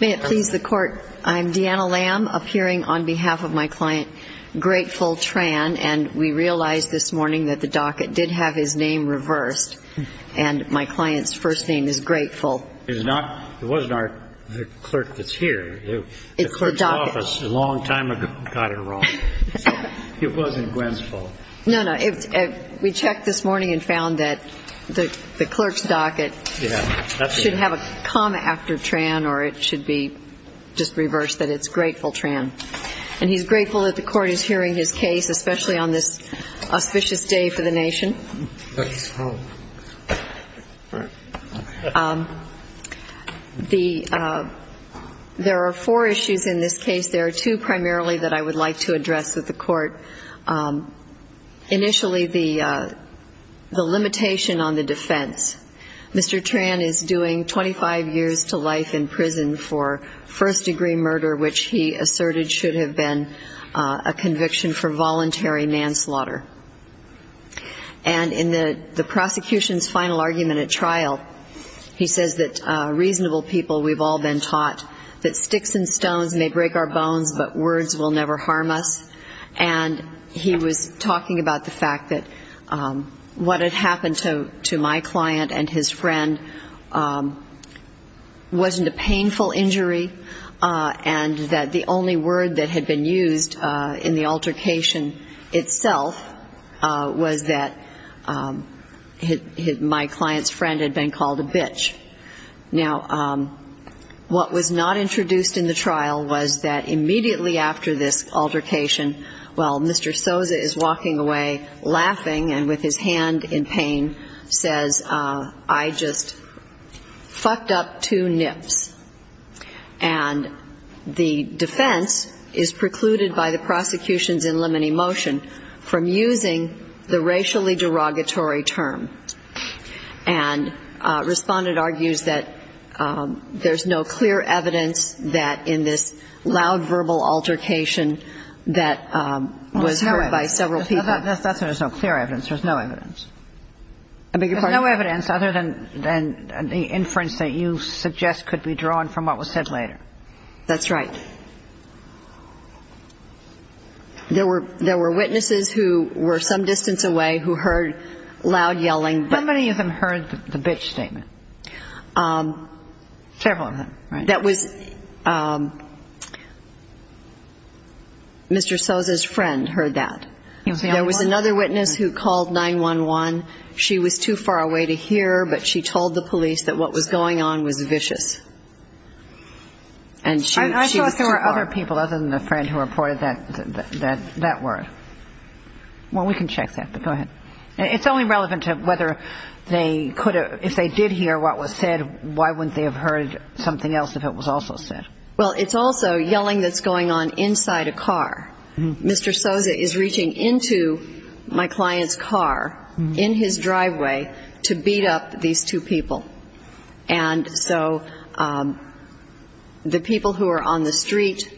May it please the Court, I am Deanna Lamb, appearing on behalf of my client, Grateful Tran, and we realized this morning that the docket did have his name reversed, and my client's first name is Grateful. It's not, it wasn't our, the clerk that's here. It's the docket. The clerk's office a long time ago got it wrong, so it wasn't Gwen's fault. No, no. We checked this morning and found that the clerk's docket should have a comma after Tran, or it should be just reversed, that it's Grateful Tran. And he's grateful that the Court is hearing his case, especially on this auspicious day for the nation. There are four issues in this case. There are two primarily that I would like to address with the Court. Initially, the limitation on the defense. Mr. Tran is doing 25 years to life in prison for first-degree murder, which he asserted should have been a conviction for voluntary manslaughter. And in the prosecution's final argument at trial, he says that reasonable people, we've all been taught that sticks and stones may break our bones, but words will never harm us. And he was talking about the fact that what had happened to my client and his friend wasn't a painful injury, and that the only word that had been used in the altercation itself was that my client's friend had been called a bitch. Now, what was not introduced in the trial was that immediately after this altercation, while Mr. Sosa is walking away laughing and with his hand in pain, says, I just fucked up two nips. And the defense is precluded by the prosecution's in limine motion from using the racially derogatory term. And Respondent argues that there's no clear evidence that in this loud verbal altercation that was heard by several people. That's why there's no clear evidence. There's no evidence. There's no evidence other than the inference that you suggest could be drawn from what was said later. That's right. There were witnesses who were some distance away who heard loud yelling. How many of them heard the bitch statement? Several of them. That was Mr. Sosa's friend heard that. There was another witness who called 911. She was too far away to hear, but she told the police that what was going on was vicious. And she was too far. I thought there were other people other than the friend who reported that word. Well, we can check that, but go ahead. It's only relevant to whether they could have ‑‑ if they did hear what was said, why wouldn't they have heard something else if it was also said? Well, it's also yelling that's going on inside a car. Mr. Sosa is reaching into my client's car in his driveway to beat up these two people. And so the people who are on the street,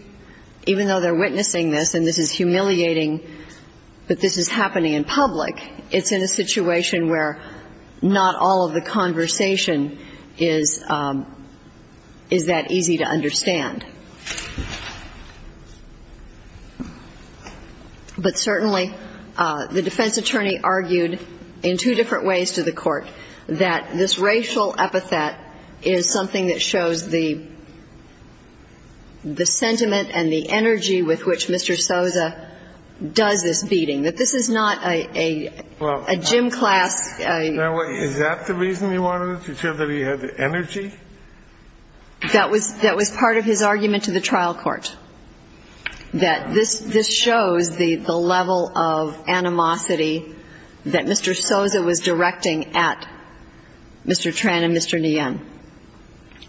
even though they're witnessing this, and this is humiliating that this is happening in public, it's in a situation where not all of the conversation is that easy to understand. But certainly the defense attorney argued in two different ways to the court that this racial epithet is something that shows the sentiment and the energy with which Mr. Sosa does this beating, that this is not a gym class. Is that the reason you wanted it, to show that he had energy? That was part of his argument to the trial court, that this shows the level of animosity that Mr. Sosa was directing at Mr. Tran and Mr. Nguyen.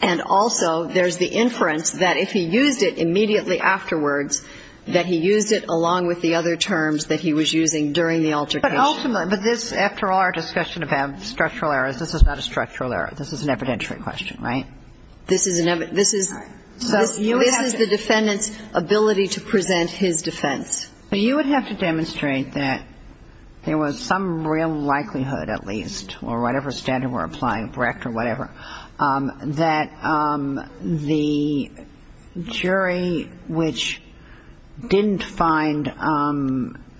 And also there's the inference that if he used it immediately afterwards, that he used it along with the other terms that he was using during the altercation. But ultimately, but this, after all our discussion about structural errors, this is not a structural error. This is an evidentiary question, right? This is the defendant's ability to present his defense. But you would have to demonstrate that there was some real likelihood at least, or whatever standard we're applying, correct or whatever, that the jury which didn't find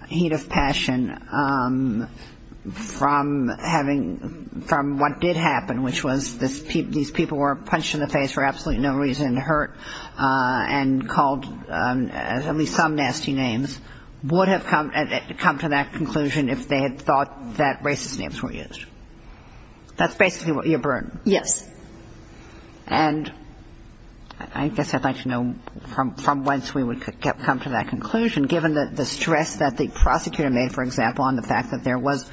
heat of passion from having, from what did happen, which was these people were punched in the face for absolutely no reason, hurt, and called at least some nasty names, would have come to that conclusion if they had thought that racist names were used. That's basically your burden. Yes. And I guess I'd like to know from whence we would come to that conclusion, given the stress that the prosecutor made, for example, on the fact that there was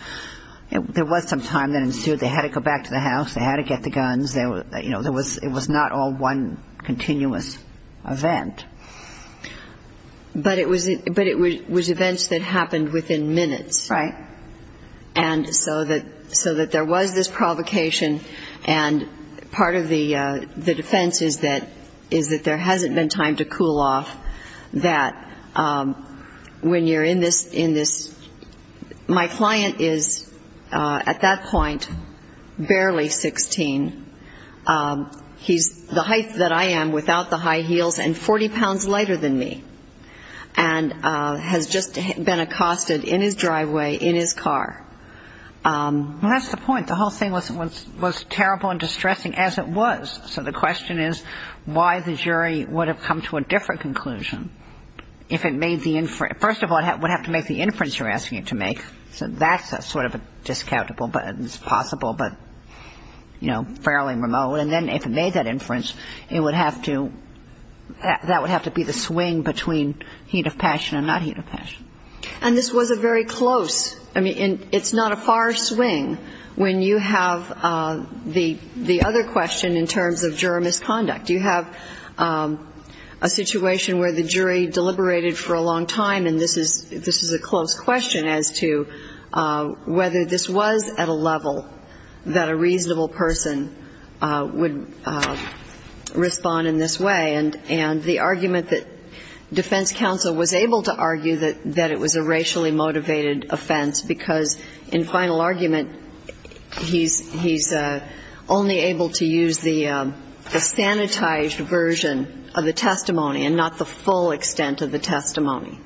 some time that ensued, they had to go back to the house, they had to get the guns, you know, it was not all one continuous event. But it was events that happened within minutes. Right. And so that there was this provocation, and part of the defense is that there hasn't been time to cool off, that when you're in this, my client is at that point barely 16. He's the height that I am without the high heels and 40 pounds lighter than me, and has just been accosted in his driveway, in his car. Well, that's the point. The whole thing was terrible and distressing as it was. So the question is why the jury would have come to a different conclusion if it made the inference. First of all, it would have to make the inference you're asking it to make. So that's sort of a discountable, but it's possible, but, you know, fairly remote. And then if it made that inference, it would have to, that would have to be the swing between heat of passion and not heat of passion. And this was a very close, I mean, it's not a far swing. When you have the other question in terms of juror misconduct, you have a situation where the jury deliberated for a long time, and this is a close question as to whether this was at a level that a reasonable person would respond in this way. And the argument that defense counsel was able to argue that it was a racially motivated offense because in final argument, he's only able to use the sanitized version of the testimony and not the full extent of the testimony.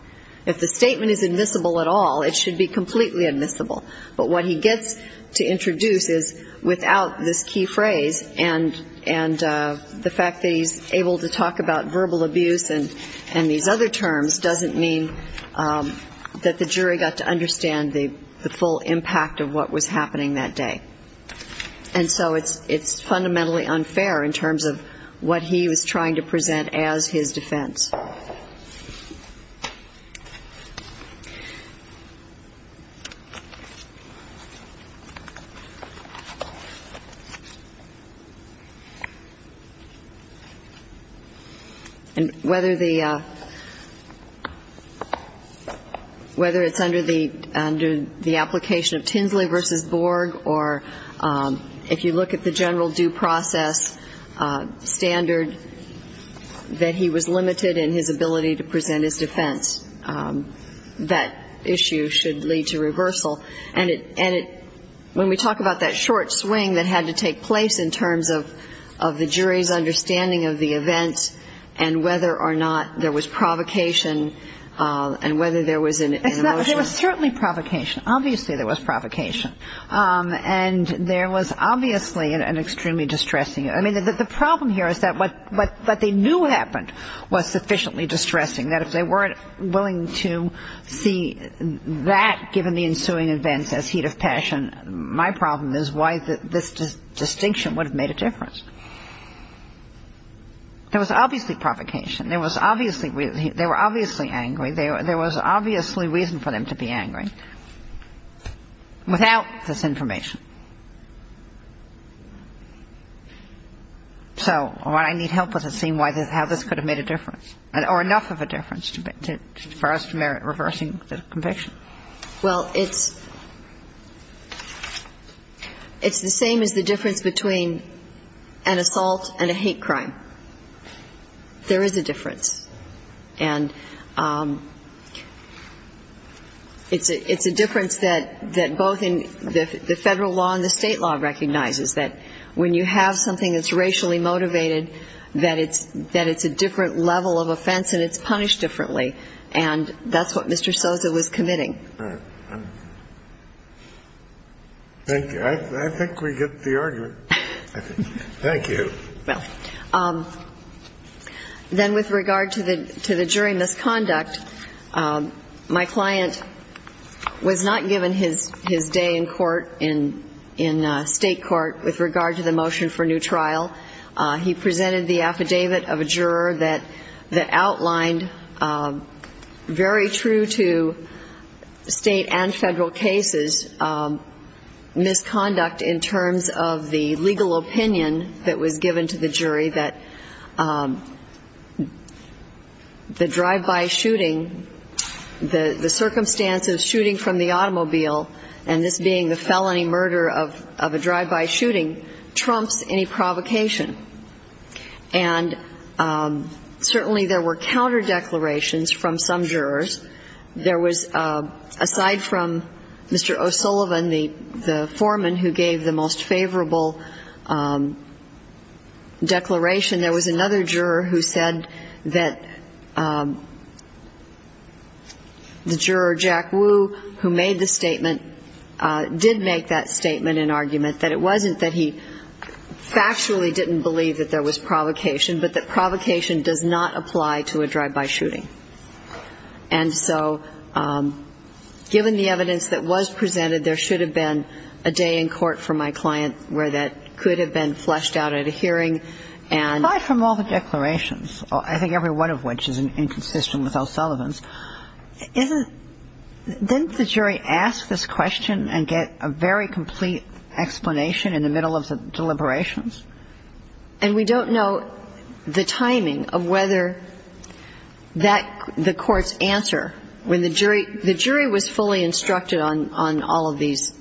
If the statement is admissible at all, it should be completely admissible. But what he gets to introduce is without this key phrase and the fact that he's able to talk about verbal abuse and these other terms doesn't mean that the jury got to understand the full impact of what was happening that day. And so it's fundamentally unfair in terms of what he was trying to present as his defense. And whether it's under the application of Tinsley v. Borg or if you look at the general due process standard that he was limited in, his ability to present his defense, that issue should lead to reversal. And when we talk about that short swing that had to take place in terms of the jury's understanding of the events and whether or not there was provocation and whether there was an emotional... It was certainly provocation. Obviously there was provocation. And there was obviously an extremely distressing... I mean, the problem here is that what they knew happened was sufficiently distressing that if they weren't willing to see that given the ensuing events as heat of passion, my problem is why this distinction would have made a difference. There was obviously provocation. They were obviously angry. There was obviously reason for them to be angry without this information. So I need help with seeing how this could have made a difference or enough of a difference for us to merit reversing the conviction. Well, it's the same as the difference between an assault and a hate crime. There is a difference. And it's a difference that both the Federal law and the State law recognizes, that when you have something that's racially motivated, that it's a different level of offense and it's punished differently. And that's what Mr. Sosa was committing. Right. Thank you. I think we get the argument. Thank you. Well, then with regard to the jury misconduct, my client was not given his day in court, in State court, with regard to the motion for new trial. He presented the affidavit of a juror that outlined very true to State and Federal cases, misconduct in terms of the legal opinion that was given to the jury that the drive-by shooting, the circumstance of shooting from the automobile and this being the felony murder of a drive-by shooting, trumps any provocation. And certainly there were counter declarations from some jurors. There was, aside from Mr. O'Sullivan, the foreman who gave the most favorable declaration, there was another juror who said that the juror, Jack Wu, who made the statement, did make that statement in argument, that it wasn't that he factually didn't believe that there was provocation, but that provocation does not apply to a drive-by shooting. And so given the evidence that was presented, there should have been a day in court for my client where that could have been fleshed out at a hearing and ---- And aside from all the declarations, I think every one of which is inconsistent with O'Sullivan's, isn't the jury ask this question and get a very complete explanation in the middle of the deliberations? And we don't know the timing of whether that, the court's answer, when the jury, the jury was fully instructed on all of these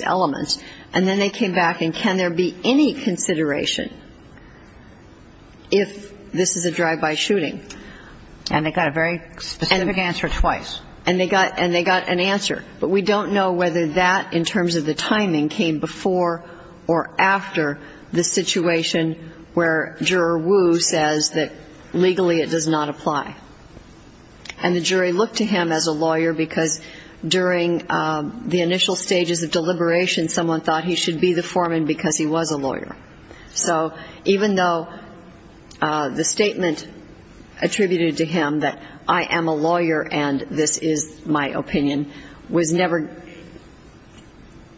elements, and then they came back and, can there be any consideration if this is a drive-by shooting? And they got a very specific answer twice. And they got an answer. But we don't know whether that, in terms of the timing, came before or after the situation where Juror Wu says that legally it does not apply. And the jury looked to him as a lawyer because during the initial stages of deliberation, someone thought he should be the foreman because he was a lawyer. So even though the statement attributed to him that I am a lawyer and this is my opinion was never,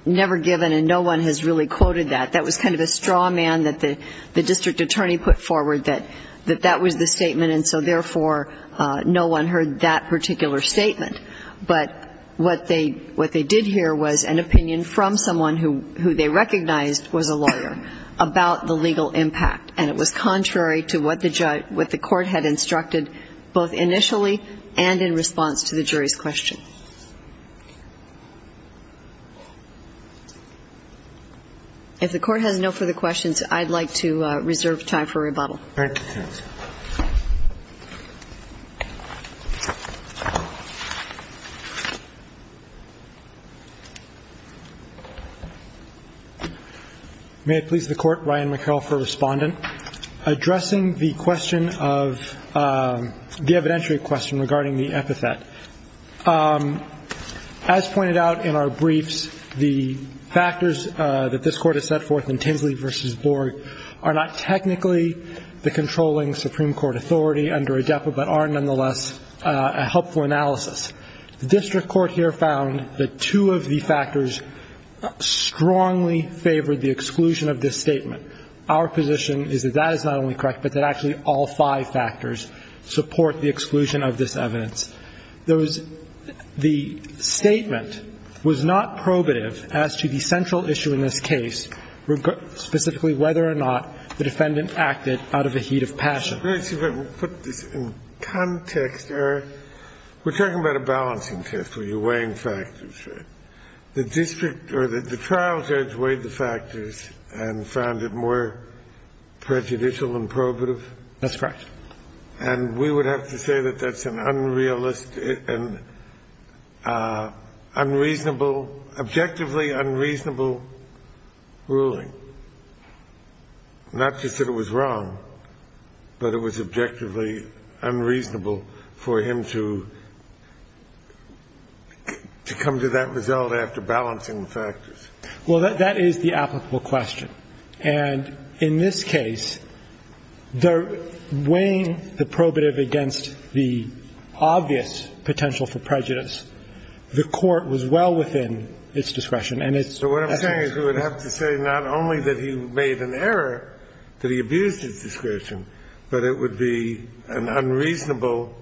never given and no one has really quoted that. That was kind of a straw man that the district attorney put forward that that was the statement and so, therefore, no one heard that particular statement. But what they did hear was an opinion from someone who they recognized was a lawyer about the legal impact. And it was contrary to what the court had instructed both initially and in response to the jury's question. If the court has no further questions, I'd like to reserve time for rebuttal. Thank you. May it please the Court, Ryan McHale for Respondent. Addressing the question of, the evidentiary question regarding the epithet. As pointed out in our briefs, the factors that this Court has set forth in Tinsley v. Borg are not technically the controlling Supreme Court authority under ADEPA, but are nonetheless a helpful analysis. The district court here found that two of the factors strongly favored the exclusion of this statement. Our position is that that is not only correct, but that actually all five factors support the exclusion of this evidence. The statement was not probative as to the central issue in this case. Specifically, whether or not the defendant acted out of a heat of passion. Put this in context. We're talking about a balancing test where you're weighing factors. The district or the trial judge weighed the factors and found it more prejudicial and probative? That's correct. And we would have to say that that's an unrealistic and unreasonable, objectively unreasonable ruling. Not just that it was wrong, but it was objectively unreasonable for him to come to that result after balancing the factors. Well, that is the applicable question. And in this case, weighing the probative against the obvious potential for prejudice, the court was well within its discretion. So what I'm saying is we would have to say not only that he made an error, that he abused his discretion, but it would be an unreasonable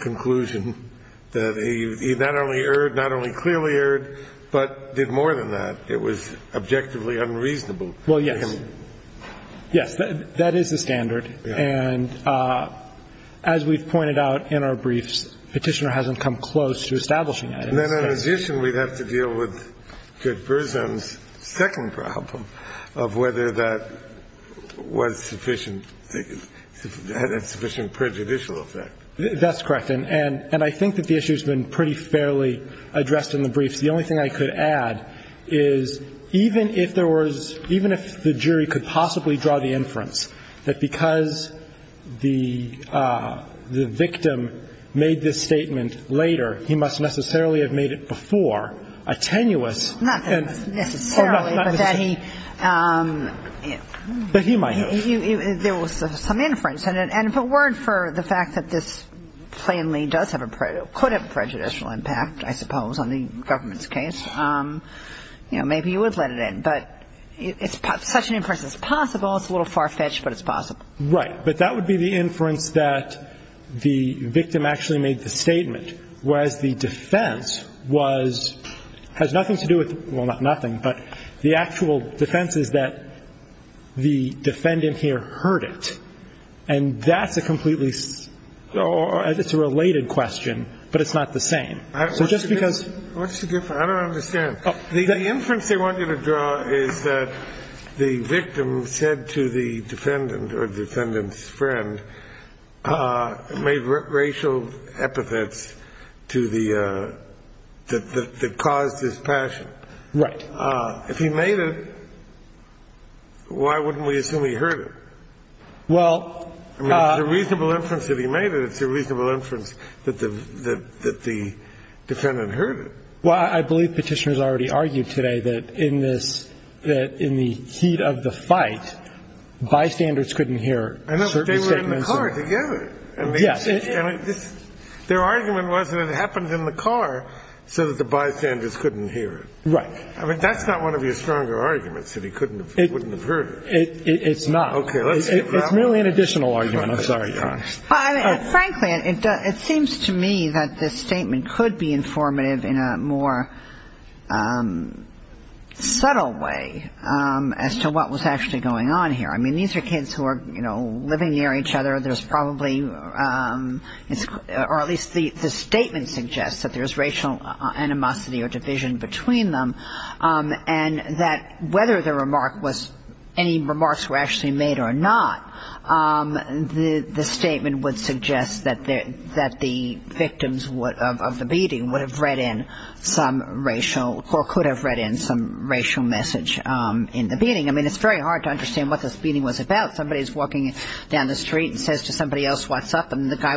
conclusion that he not only erred, not only clearly erred, but did more than that. It was objectively unreasonable. Well, yes. Yes. That is the standard. And as we've pointed out in our briefs, Petitioner hasn't come close to establishing it. And then in addition, we'd have to deal with Judge Berzin's second problem of whether that was sufficient, had a sufficient prejudicial effect. That's correct. And I think that the issue has been pretty fairly addressed in the briefs. The only thing I could add is even if there was, even if the jury could possibly draw the inference that because the victim made this statement later, he must necessarily have made it before, a tenuous. Not that necessarily, but that he. But he might have. There was some inference. And if a word for the fact that this plainly does have a, could have a prejudicial impact, I suppose, on the government's case, you know, maybe you would let it in. But such an inference is possible. It's a little far-fetched, but it's possible. Right. But that would be the inference that the victim actually made the statement, whereas the defense was, has nothing to do with, well, not nothing, but the actual defense is that the defendant here heard it. And that's a completely, it's a related question, but it's not the same. So just because. What's the difference? I don't understand. The inference they want you to draw is that the victim said to the defendant or defendant's friend, made racial epithets to the, that caused his passion. Right. If he made it, why wouldn't we assume he heard it? Well. I mean, it's a reasonable inference that he made it. It's a reasonable inference that the defendant heard it. Well, I believe Petitioner's already argued today that in this, that in the heat of the fight, bystanders couldn't hear certain statements. They were in the car together. Yes. Their argument was that it happened in the car so that the bystanders couldn't hear it. Right. I mean, that's not one of your stronger arguments, that he couldn't have, wouldn't have heard it. It's not. Okay. It's merely an additional argument. I'm sorry. Frankly, it seems to me that this statement could be informative in a more subtle way as to what was actually going on here. I mean, these are kids who are, you know, living near each other. There's probably, or at least the statement suggests that there's racial animosity or division between them, and that whether the remark was, any remarks were actually made or not, the statement would suggest that the victims of the beating would have read in some racial, or could have read in some racial message in the beating. I mean, it's very hard to understand what this beating was about. Somebody's walking down the street and says to somebody else, what's up? And the guy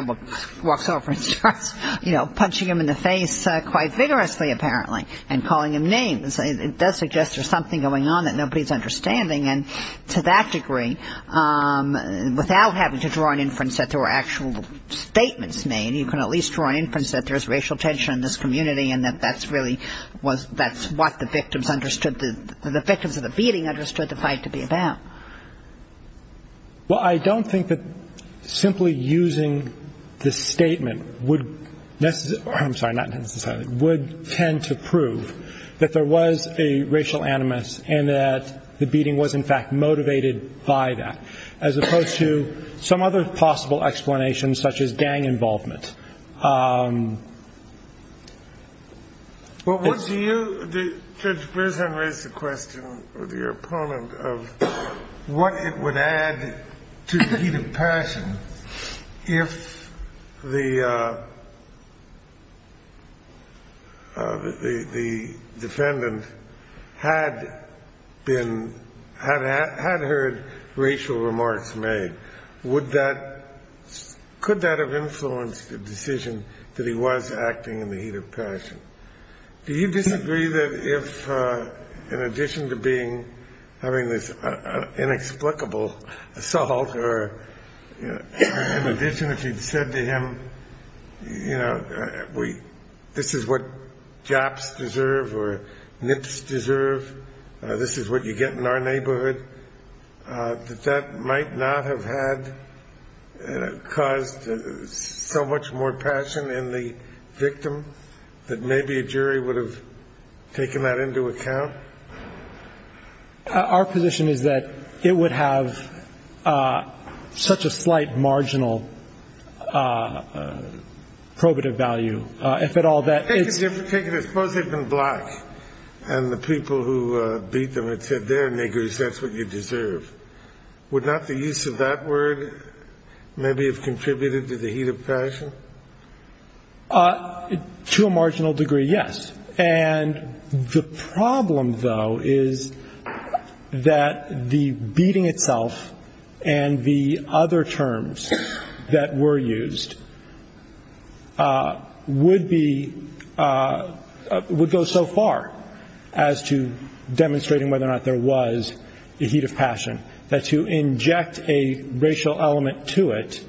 walks over and starts, you know, punching him in the face quite vigorously, apparently, and calling him names. It does suggest there's something going on that nobody's understanding. And to that degree, without having to draw an inference that there were actual statements made, you can at least draw an inference that there's racial tension in this community and that that's really what the victims understood, the victims of the beating understood the fight to be about. Well, I don't think that simply using the statement would necessarily, I'm sorry, not necessarily, would tend to prove that there was a racial animus and that the victim was, in fact, motivated by that, as opposed to some other possible explanations, such as gang involvement. But what do you, Judge Breslin raised a question with your opponent of what it would add to the heat of passion if the defendant had heard racial remarks made? Could that have influenced the decision that he was acting in the heat of passion? Do you disagree that if, in addition to being, having this inexplicable assault, or in addition, if you'd said to him, you know, this is what Japs deserve or Nips deserve, this is what you get in our neighborhood, that that might not have had caused so much more passion in the victim, that maybe a jury would have taken that into account? Our position is that it would have such a slight marginal probative value. If at all, that it's... Take it as, suppose they'd been black and the people who beat them had said, they're niggers, that's what you deserve. Would not the use of that word maybe have contributed to the heat of passion? To a marginal degree, yes. And the problem, though, is that the beating itself and the other terms that were used to describe it was the heat of passion, that to inject a racial element to it,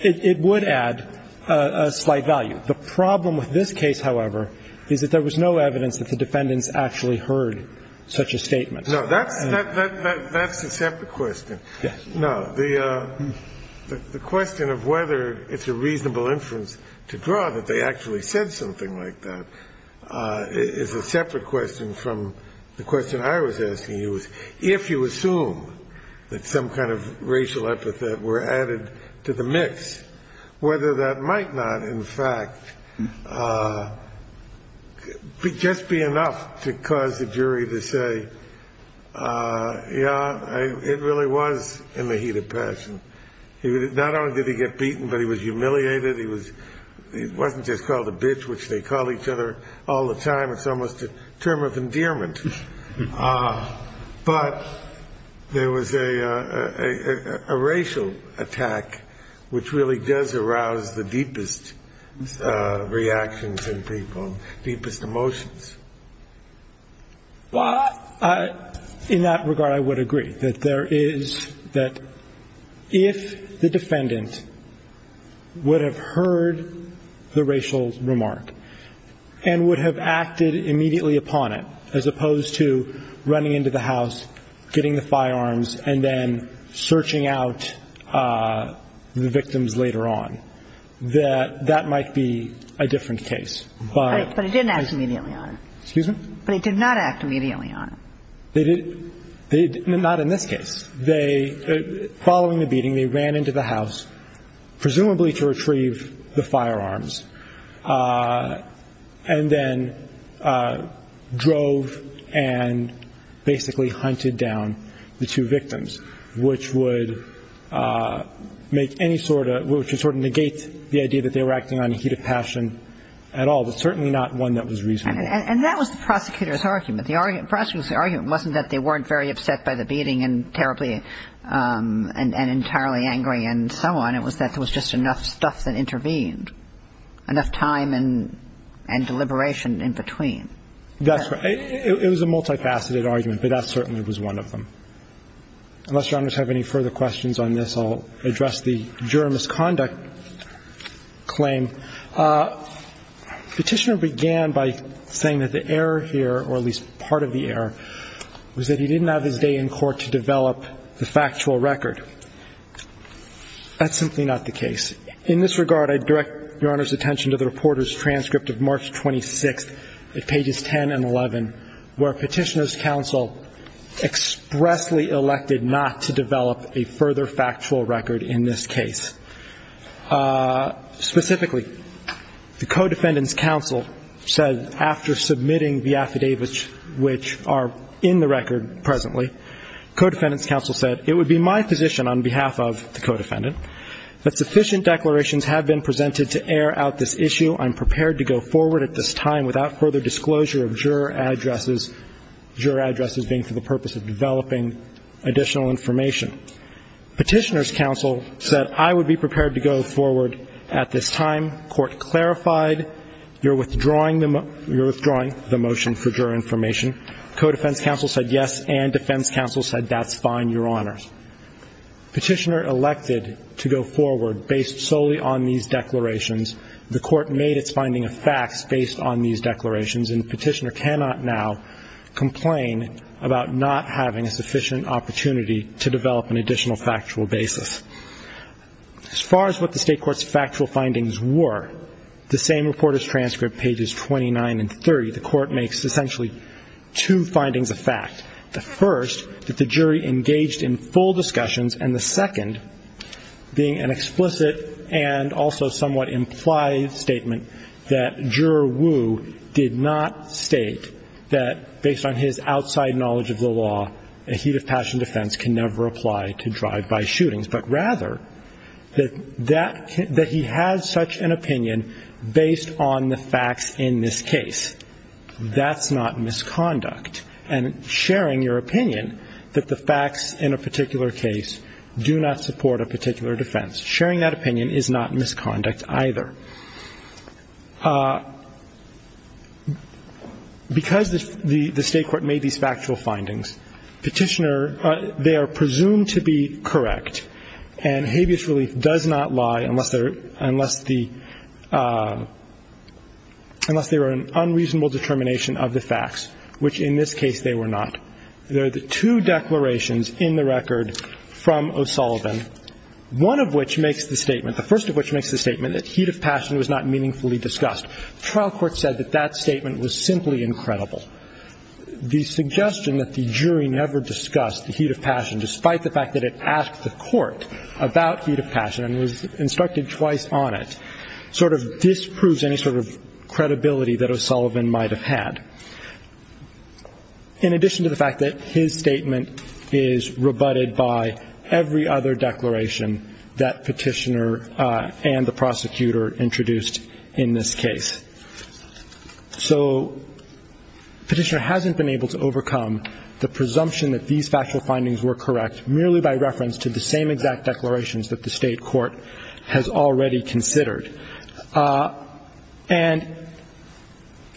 it would add a slight value. The problem with this case, however, is that there was no evidence that the defendants actually heard such a statement. No, that's a separate question. No, the question of whether it's a reasonable inference to draw that they actually said something like that is a separate question from the question I was asking you, if you assume that some kind of racial epithet were added to the mix, whether that might not, in fact, just be enough to cause the jury to say, yeah, it really was in the heat of passion. Not only did he get beaten, but he was humiliated. He wasn't just called a bitch, which they call each other all the time. It's almost a term of endearment. But there was a racial attack, which really does arouse the deepest reactions in people, deepest emotions. In that regard, I would agree that there is, that if the defendant would have heard the racial remark and would have acted immediately upon it, as opposed to running into the house, getting the firearms, and then searching out the victims later on, that that might be a different case. But he didn't act immediately on it. Excuse me? But he did not act immediately on it. Not in this case. Following the beating, they ran into the house, presumably to retrieve the firearms, and then drove and basically hunted down the two victims, which would make any sort of, which would sort of negate the idea that they were acting on heat of passion at all, but certainly not one that was reasonable. And that was the prosecutor's argument. The prosecutor's argument wasn't that they weren't very upset by the beating and terribly and entirely angry and so on. It was that there was just enough stuff that intervened, enough time and deliberation in between. That's right. It was a multi-faceted argument, but that certainly was one of them. Unless Your Honors have any further questions on this, I'll address the juror misconduct claim. Petitioner began by saying that the error here, or at least part of the error, was that he didn't have his day in court to develop the factual record. That's simply not the case. In this regard, I direct Your Honors' attention to the reporter's transcript of March 26th at pages 10 and 11, where Petitioner's counsel expressly elected not to develop a further factual record in this case. Specifically, the co-defendant's counsel said after submitting the affidavits which are in the record presently, co-defendant's counsel said, It would be my position on behalf of the co-defendant that sufficient declarations have been presented to air out this issue. I'm prepared to go forward at this time without further disclosure of juror addresses, juror addresses being for the purpose of developing additional information. Petitioner's counsel said, I would be prepared to go forward at this time. Court clarified, you're withdrawing the motion for juror information. Co-defense counsel said, yes, and defense counsel said, that's fine, Your Honors. Petitioner elected to go forward based solely on these declarations. The court made its finding of facts based on these declarations, and Petitioner cannot now complain about not having a sufficient opportunity to develop an additional factual basis. As far as what the state court's factual findings were, the same reporter's transcript, pages 29 and 30, the court makes essentially two findings of fact. The first, that the jury engaged in full discussions, and the second being an explicit and also somewhat implied statement that juror Wu did not state that, based on his outside knowledge of the law, a heat of passion defense can never apply to drive-by shootings, but rather that that he had such an opinion based on the facts in this case. That's not misconduct. And sharing your opinion that the facts in a particular case do not support a particular defense, sharing that opinion is not misconduct either. Because the state court made these factual findings, Petitioner, they are presumed to be correct, and habeas relief does not lie unless there are an unreasonable determination of the facts, which in this case they were not. There are two declarations in the record from O'Sullivan, one of which makes the statement, the first of which makes the statement that heat of passion was not meaningfully discussed. Trial court said that that statement was simply incredible. The suggestion that the jury never discussed the heat of passion, despite the fact that it asked the court about heat of passion and was instructed twice on it, sort of disproves any sort of credibility that O'Sullivan might have had. In addition to the fact that his statement is rebutted by every other declaration that Petitioner and the prosecutor introduced in this case. So Petitioner hasn't been able to overcome the presumption that these factual findings were correct, merely by reference to the same exact declarations that the state court has already considered. And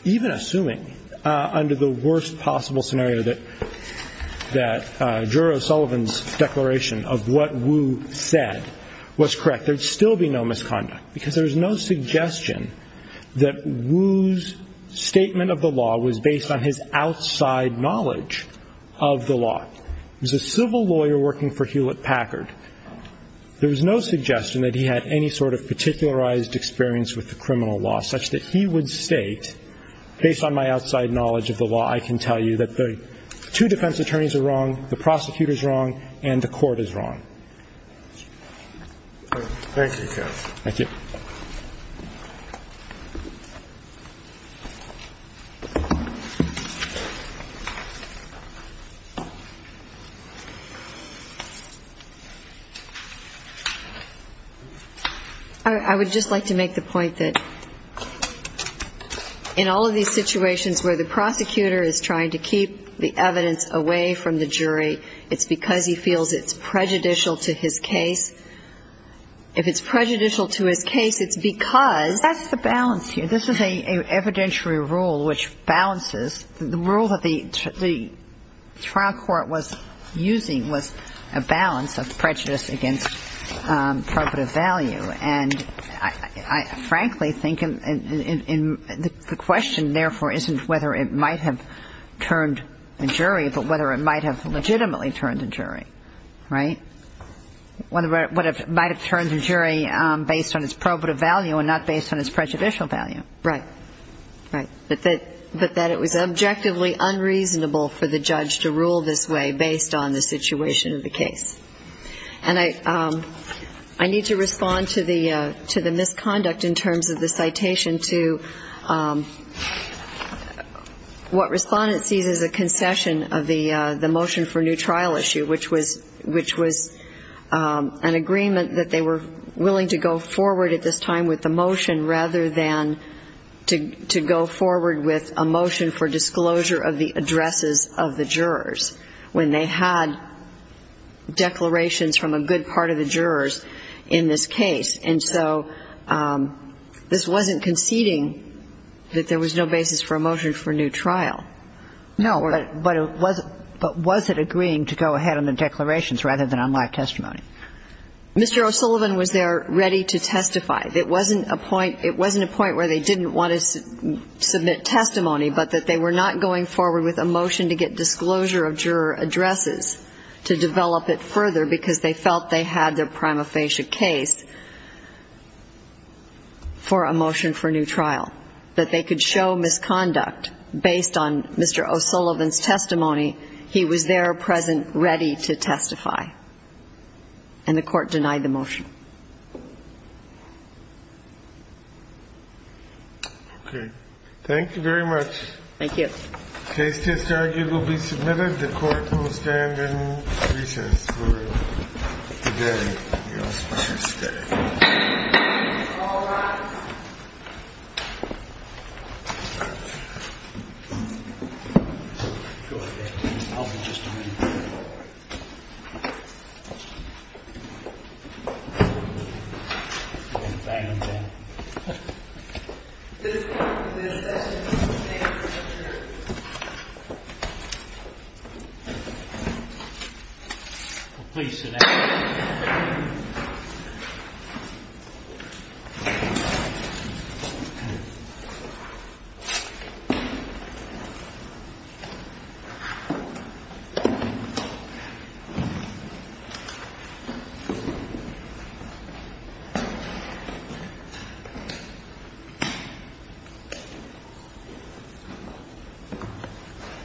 even assuming, under the worst possible scenario, that juror O'Sullivan's declaration of what Wu said was correct, there would still be no misconduct, because there is no suggestion that Wu's statement of the law was based on his outside knowledge of the law. He was a civil lawyer working for Hewlett Packard. There was no suggestion that he had any sort of particularized experience with the criminal law, such that he would state, based on my outside knowledge of the law, I can tell you that the two defense attorneys are wrong, the prosecutor is wrong, and the court is wrong. Thank you, counsel. Thank you. I would just like to make the point that in all of these situations where the prosecutor is trying to keep the evidence away from the jury, it's because he feels it's prejudicial to his case. If it's prejudicial to his case, it's because... That's the balance here. This is an evidentiary rule which balances. The rule that the trial court was using was a balance of prejudice against probative value. And I frankly think the question, therefore, isn't whether it might have turned a jury, but whether it might have legitimately turned a jury, right? Whether it might have turned a jury based on its probative value and not based on its prejudicial value. Right. Right. But that it was objectively unreasonable for the judge to rule this way based on the situation of the case. And I need to respond to the misconduct in terms of the citation to what Respondent sees as a concession of the motion for new trial issue, which was an agreement that they were willing to go forward at this time with the motion rather than to go forward with a motion for disclosure of the addresses of the jurors, when they had declarations from a good part of the jurors in this case. And so this wasn't conceding that there was no basis for a motion for new trial. No. But was it agreeing to go ahead on the declarations rather than on live testimony? It wasn't a point where they didn't want to submit testimony, but that they were not going forward with a motion to get disclosure of juror addresses to develop it further because they felt they had their prima facie case for a motion for new trial, that they could show misconduct based on Mr. O'Sullivan's testimony. And the court denied the motion. Okay. Thank you very much. Thank you. Case test argued will be submitted. The court will stand in recess for today. All rise. Go ahead. I'll be just a minute. Please sit down. Thank you.